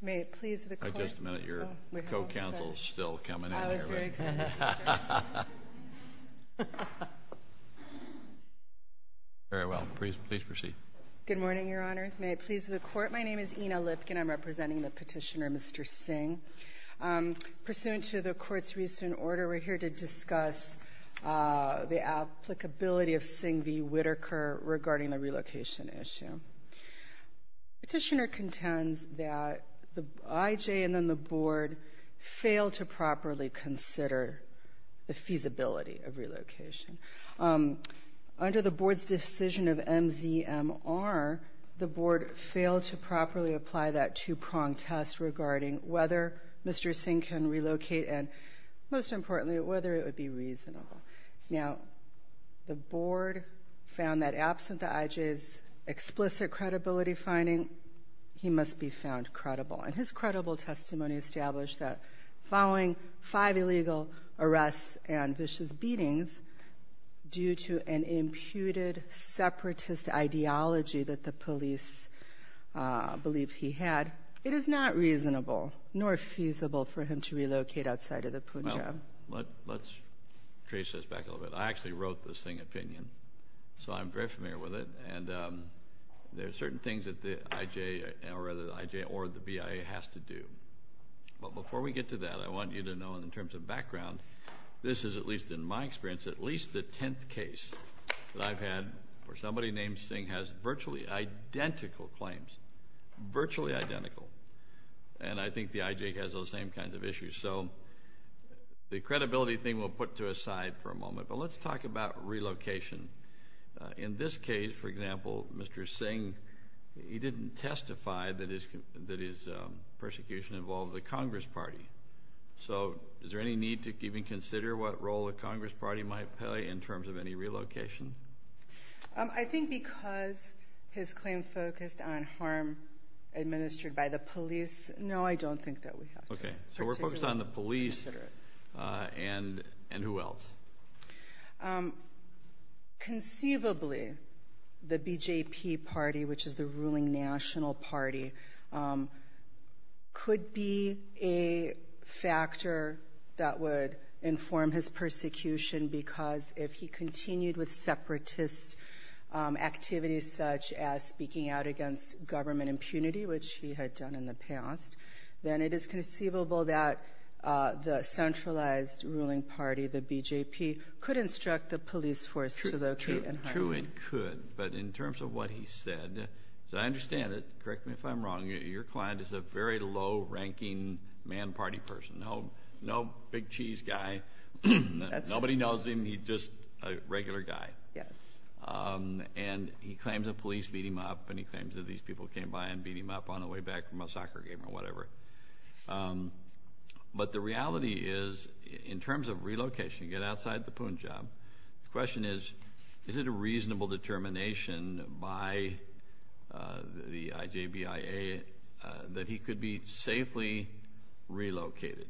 May it please the court. Just a minute, your co-counsel is still coming in here. I was very excited. Very well. Please proceed. Good morning, Your Honors. May it please the court. My name is Ina Lipkin. I'm representing the petitioner, Mr. Singh. Pursuant to the court's recent order, we're here to discuss the applicability of Singh v. Whitaker regarding the relocation issue. Petitioner contends that the IJ and then the board failed to properly consider the feasibility of relocation. Under the board's decision of MZMR, the board failed to properly apply that two-prong test regarding whether Mr. Singh can relocate and, most importantly, whether it would be reasonable. Now, the board found that absent the IJ's explicit credibility finding, he must be found credible. And his credible testimony established that following five illegal arrests and vicious beatings due to an imputed separatist ideology that the police believed he had, it is not reasonable nor feasible for him to relocate outside of the Punjab. Let's trace this back a little bit. I actually wrote the Singh opinion, so I'm very familiar with it. And there are certain things that the IJ or the BIA has to do. But before we get to that, I want you to know in terms of background, this is, at least in my experience, at least the tenth case that I've had where somebody named Singh has virtually identical claims, virtually identical. And I think the IJ has those same kinds of issues. So the credibility thing we'll put to a side for a moment. But let's talk about relocation. In this case, for example, Mr. Singh, he didn't testify that his persecution involved the Congress Party. So is there any need to even consider what role the Congress Party might play in terms of any relocation? I think because his claim focused on harm administered by the police, no, I don't think that we have to. Okay. So we're focused on the police and who else? Conceivably, the BJP party, which is the ruling national party, could be a factor that would inform his persecution because if he continued with separatist activities, such as speaking out against government impunity, which he had done in the past, then it is conceivable that the centralized ruling party, the BJP, could instruct the police force to locate him. True, it could. But in terms of what he said, as I understand it, correct me if I'm wrong, your client is a very low-ranking man party person, no big cheese guy. That's right. Nobody knows him. He's just a regular guy. Yes. And he claims the police beat him up and he claims that these people came by and beat him up on the way back from a soccer game or whatever. But the reality is, in terms of relocation, you get outside the Poon job, the question is, is it a reasonable determination by the IJBIA that he could be safely relocated?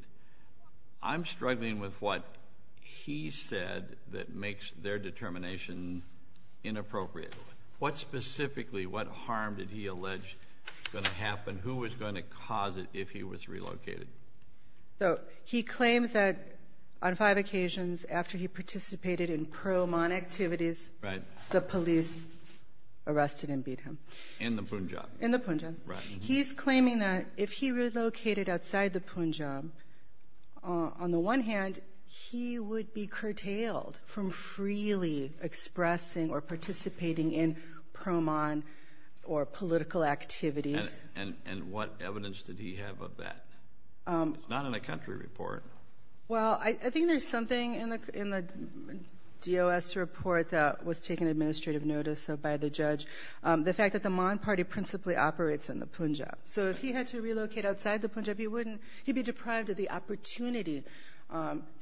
I'm struggling with what he said that makes their determination inappropriate. What specifically, what harm did he allege was going to happen? Who was going to cause it if he was relocated? He claims that on five occasions after he participated in pro-mon activities, the police arrested and beat him. In the Poon job. In the Poon job. Right. He's claiming that if he relocated outside the Poon job, on the one hand, he would be curtailed from freely expressing or participating in pro-mon or political activities. And what evidence did he have of that? It's not in a country report. Well, I think there's something in the DOS report that was taken administrative notice of by the judge. The fact that the Mon party principally operates in the Poon job. So if he had to relocate outside the Poon job, he'd be deprived of the opportunity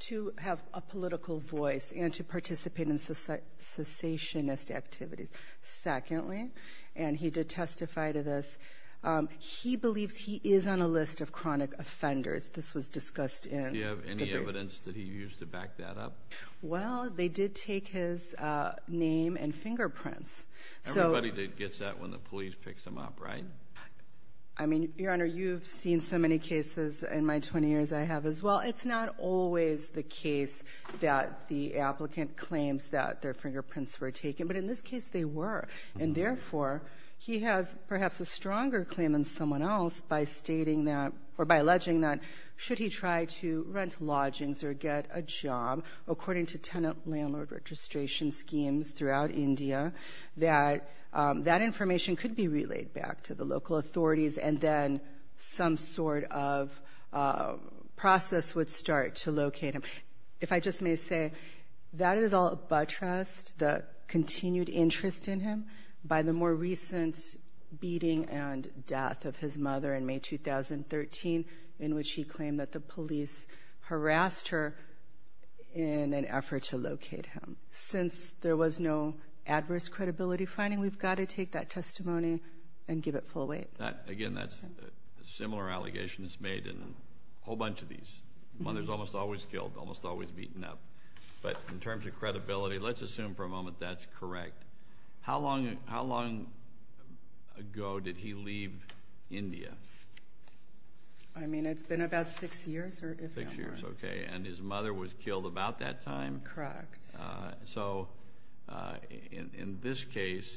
to have a political voice and to participate in cessationist activities. Secondly, and he did testify to this, he believes he is on a list of chronic offenders. This was discussed in the brief. Do you have any evidence that he used to back that up? Well, they did take his name and fingerprints. Everybody gets that when the police picks them up, right? I mean, Your Honor, you've seen so many cases in my 20 years I have as well. It's not always the case that the applicant claims that their fingerprints were taken. But in this case, they were. And therefore, he has perhaps a stronger claim than someone else by stating that or by alleging that should he try to rent lodgings or get a job, according to tenant landlord registration schemes throughout India, that that information could be relayed back to the local authorities, and then some sort of process would start to locate him. If I just may say, that is all buttressed, the continued interest in him, by the more recent beating and death of his mother in May 2013, in which he claimed that the police harassed her in an effort to locate him. Since there was no adverse credibility finding, we've got to take that testimony and give it full weight. Again, that's a similar allegation that's made in a whole bunch of these. Mother's almost always killed, almost always beaten up. But in terms of credibility, let's assume for a moment that's correct. How long ago did he leave India? I mean, it's been about six years or if not more. Six years, okay. And his mother was killed about that time? Correct. So in this case,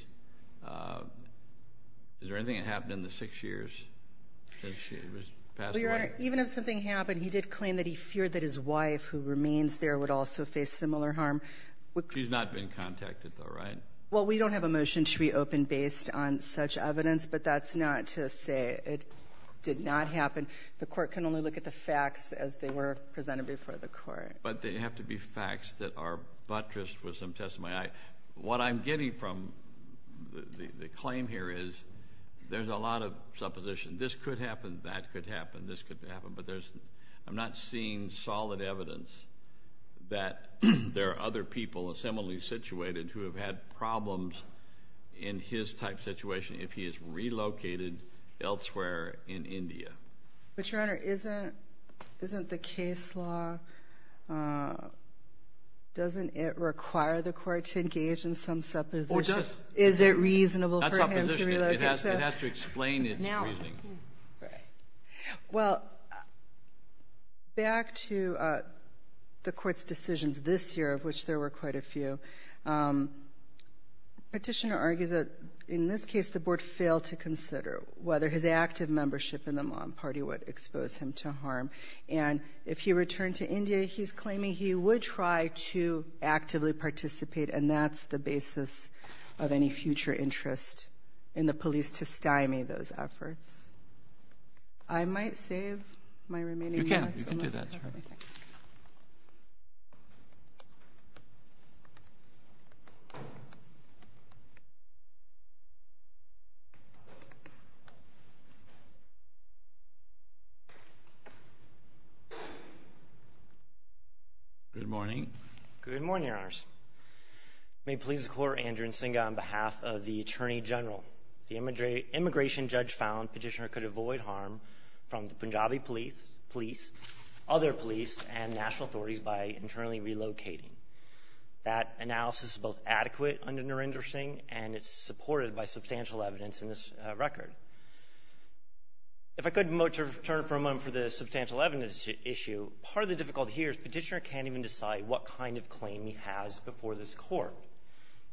is there anything that happened in the six years that she was passed away? Well, Your Honor, even if something happened, he did claim that he feared that his wife, who remains there, would also face similar harm. She's not been contacted, though, right? Well, we don't have a motion to reopen based on such evidence, but that's not to say it did not happen. The Court can only look at the facts as they were presented before the Court. But they have to be facts that are buttressed with some testimony. What I'm getting from the claim here is there's a lot of supposition. This could happen, that could happen, this could happen. But I'm not seeing solid evidence that there are other people similarly situated who have had problems in his type situation if he is relocated elsewhere in India. But, Your Honor, isn't the case law, doesn't it require the Court to engage in some supposition? Is it reasonable for him to relocate? Not supposition. It has to explain its reasoning. Right. Well, back to the Court's decisions this year, of which there were quite a few, the Petitioner argues that, in this case, the Board failed to consider whether his active membership in the Mon party would expose him to harm. And if he returned to India, he's claiming he would try to actively participate, and that's the basis of any future interest in the police testimony, those efforts. I might save my remaining minutes. You can. You can do that. Good morning. Good morning, Your Honors. May it please the Court, Andrew Nsinga, on behalf of the Attorney General. The immigration judge found Petitioner could avoid harm from the Punjabi police, other police, and national authorities by internally relocating. That analysis is both adequate under Narendra Singh, and it's supported by substantial evidence in this record. If I could turn for a moment for the substantial evidence issue, part of the difficulty here is Petitioner can't even decide what kind of claim he has before this Court.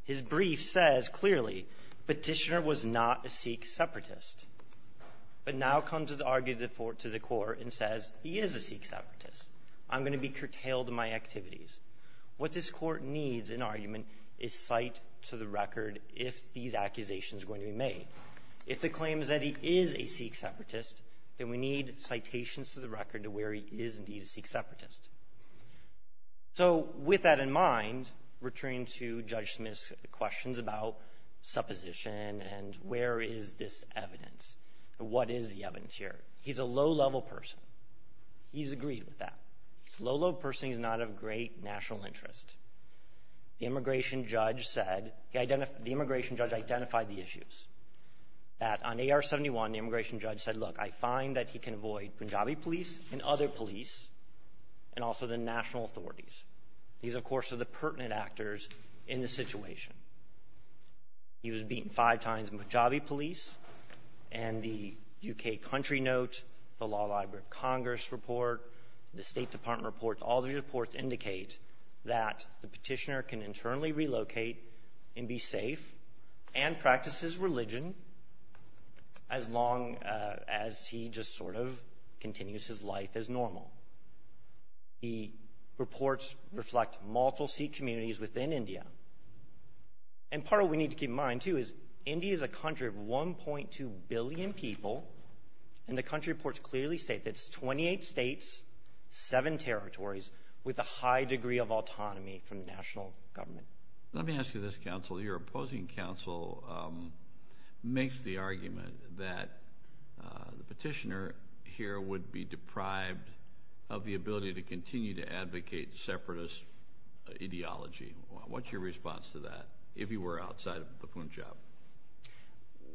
His brief says clearly Petitioner was not a Sikh separatist, but now comes to the argument before the Court and says he is a Sikh separatist. I'm going to be curtailed in my activities. What this Court needs in argument is cite to the record if these accusations are going to be made. If the claim is that he is a Sikh separatist, then we need citations to the record to where he is indeed a Sikh separatist. So with that in mind, returning to Judge Smith's questions about supposition and where is this evidence, what is the evidence here? He's a low-level person. He's agreed with that. He's a low-level person. He's not of great national interest. The immigration judge said he identified the immigration judge identified the issues. That on AR-71, the immigration judge said, look, I find that he can avoid Punjabi police and other police, and also the national authorities. These, of course, are the pertinent actors in the situation. He was beaten five times in Punjabi police, and the U.K. Country Note, the Law Library of Congress report, the State Department report, all these reports indicate that the Petitioner can internally relocate and be safe and practice his religion as long as he just sort of continues his life as normal. The reports reflect multiple Sikh communities within India. And part of what we need to keep in mind, too, is India is a country of 1.2 billion people, and the country reports clearly state that it's 28 states, seven territories, with a high degree of autonomy from the national government. Let me ask you this, Counsel. Your opposing counsel makes the argument that the Petitioner here would be deprived of the ability to continue to advocate separatist ideology. What's your response to that, if he were outside of the Punjab?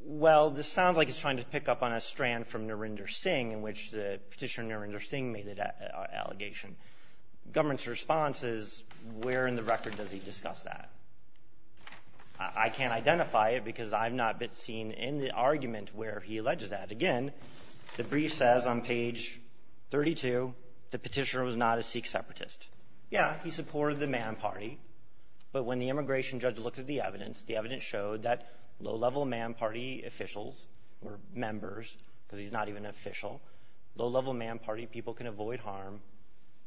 Well, this sounds like he's trying to pick up on a strand from Narendra Singh in which the Petitioner Narendra Singh made the allegation. The government's response is, where in the record does he discuss that? I can't identify it because I've not been seen in the argument where he alleges that. Again, the brief says on page 32 the Petitioner was not a Sikh separatist. Yeah, he supported the Man Party, but when the immigration judge looked at the evidence, the evidence showed that low-level Man Party officials or members, because he's not even an official, low-level Man Party people can avoid harm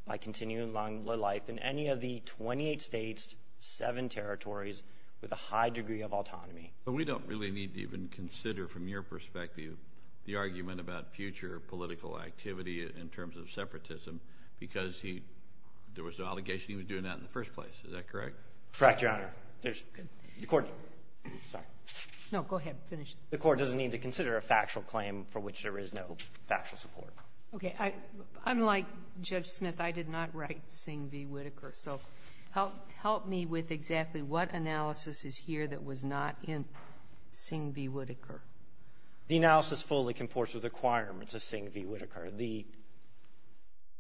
by continuing along their life in any of the 28 states, seven territories, with a high degree of autonomy. But we don't really need to even consider, from your perspective, the argument about future political activity in terms of separatism, because there was no allegation he was doing that in the first place. Is that correct? Correct, Your Honor. There's the Court no, go ahead, finish. The Court doesn't need to consider a factual claim for which there is no factual support. Okay. Unlike Judge Smith, I did not write Singh v. Whitaker. So help me with exactly what analysis is here that was not in Singh v. Whitaker. The analysis fully comports with requirements of Singh v. Whitaker. The,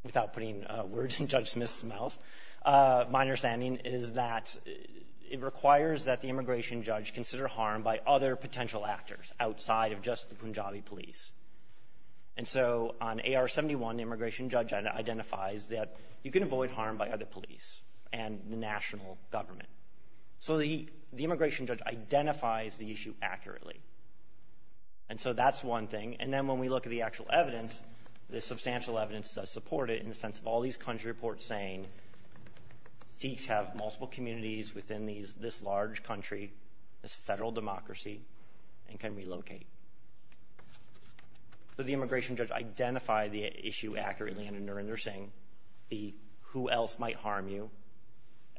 without putting words in Judge Smith's mouth, my understanding is that it requires that the immigration judge consider harm by other potential actors outside of just the Punjabi police. And so on AR-71, the immigration judge identifies that you can avoid harm by other police and the national government. So the immigration judge identifies the issue accurately. And so that's one thing. And then when we look at the actual evidence, the substantial evidence does support it in the sense of all these country reports saying Sikhs have multiple communities within these, this large country, this Federal democracy, and can relocate. So the immigration judge identified the issue accurately under Narendra Singh, the who else might harm you,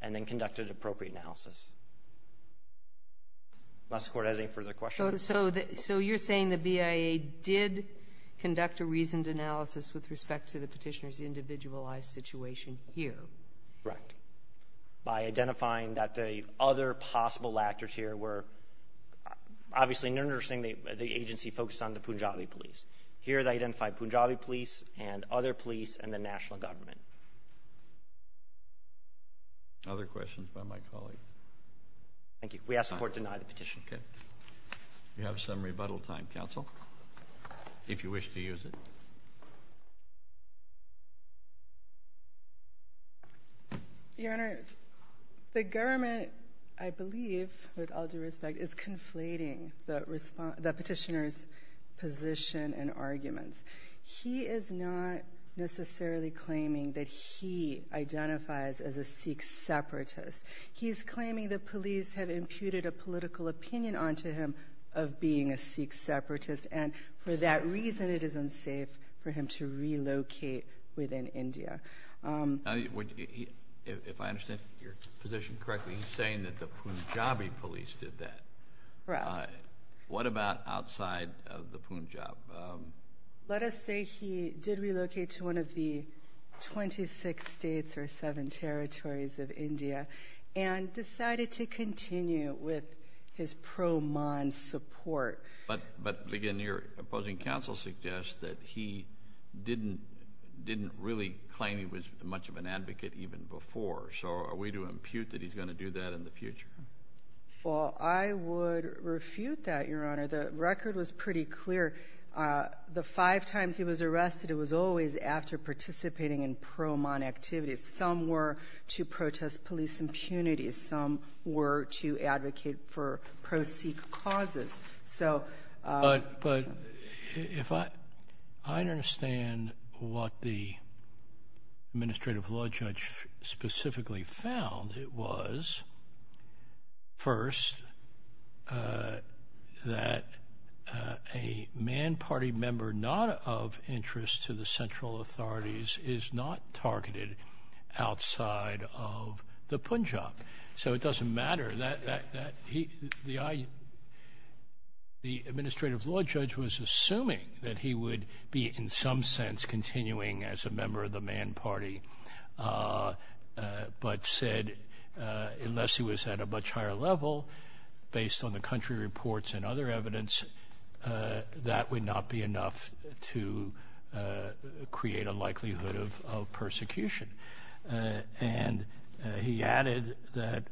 and then conducted appropriate analysis. Unless the Court has any further questions. Kagan. So you're saying the BIA did conduct a reasoned analysis with respect to the Petitioner's individualized situation here? Correct. By identifying that the other possible actors here were, obviously, Narendra Singh, the agency focused on the Punjabi police. Here they identified Punjabi police and other police and the national government. Other questions by my colleagues? Thank you. We ask the Court to deny the petition. Okay. You have some rebuttal time, counsel, if you wish to use it. Your Honor, the government, I believe, with all due respect, is conflating the Petitioner's position and arguments. He is not necessarily claiming that he identifies as a Sikh separatist. He's claiming the police have imputed a political opinion onto him of being a Sikh separatist, and for that reason it is unsafe for him to relocate within India. If I understand your position correctly, he's saying that the Punjabi police did that. Correct. What about outside of the Punjab? Let us say he did relocate to one of the 26 states or seven territories of India and decided to continue with his pro-Maan support. But, again, your opposing counsel suggests that he didn't really claim he was much of an advocate even before, so are we to impute that he's going to do that in the future? Well, I would refute that, Your Honor. The record was pretty clear. The five times he was arrested, it was always after participating in pro-Maan activities. Some were to protest police impunities. Some were to advocate for pro-Sikh causes. But I understand what the administrative law judge specifically found. It was, first, that a Maan Party member not of interest to the central authorities is not targeted outside of the Punjab. So it doesn't matter. The administrative law judge was assuming that he would be, in some sense, continuing as a member of the Maan Party, but said unless he was at a much higher level, based on the country reports and other evidence, that would not be enough to create a likelihood of persecution. And he added that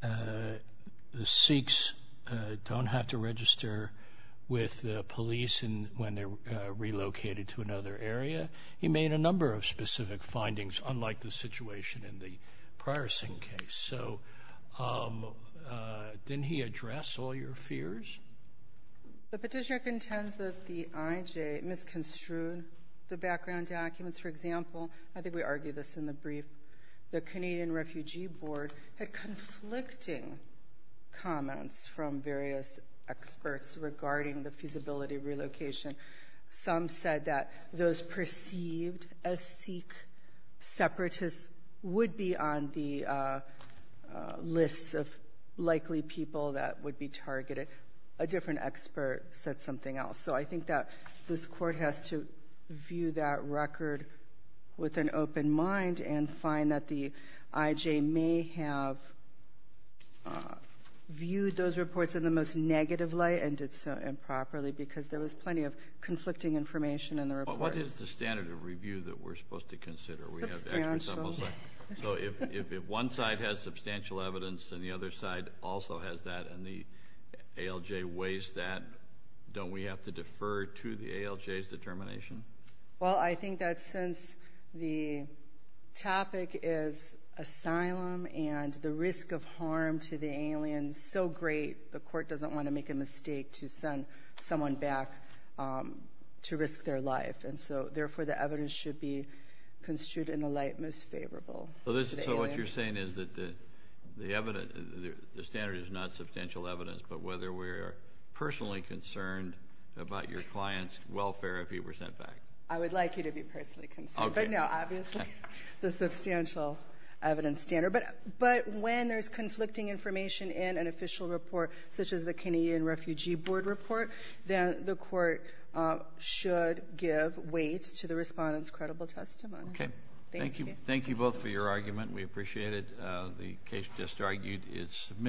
the Sikhs don't have to register with the police when they're relocated to another area. He made a number of specific findings, unlike the situation in the prior Singh case. So didn't he address all your fears? The Petitioner contends that the IJ misconstrued the background documents. For example, I think we argued this in the brief, the Canadian Refugee Board had conflicting comments from various experts regarding the feasibility of relocation. Some said that those perceived as Sikh separatists would be on the lists of likely people that would be targeted. A different expert said something else. So I think that this Court has to view that record with an open mind and find that the IJ may have viewed those reports in the most negative light and did so improperly because there was plenty of conflicting information in the report. What is the standard of review that we're supposed to consider? Substantial. So if one side has substantial evidence and the other side also has that and the ALJ weighs that, don't we have to defer to the ALJ's determination? Well, I think that since the topic is asylum and the risk of harm to the aliens, so great the Court doesn't want to make a mistake to send someone back to risk their life. And so, therefore, the evidence should be construed in the light most favorable. So what you're saying is that the standard is not substantial evidence, but whether we're personally concerned about your client's welfare if he were sent back. I would like you to be personally concerned. But no, obviously the substantial evidence standard. But when there's conflicting information in an official report, such as the Canadian Refugee Board report, then the Court should give weight to the respondent's credible testimony. Okay. Thank you. Thank you both for your argument. We appreciate it. The case just argued is submitted.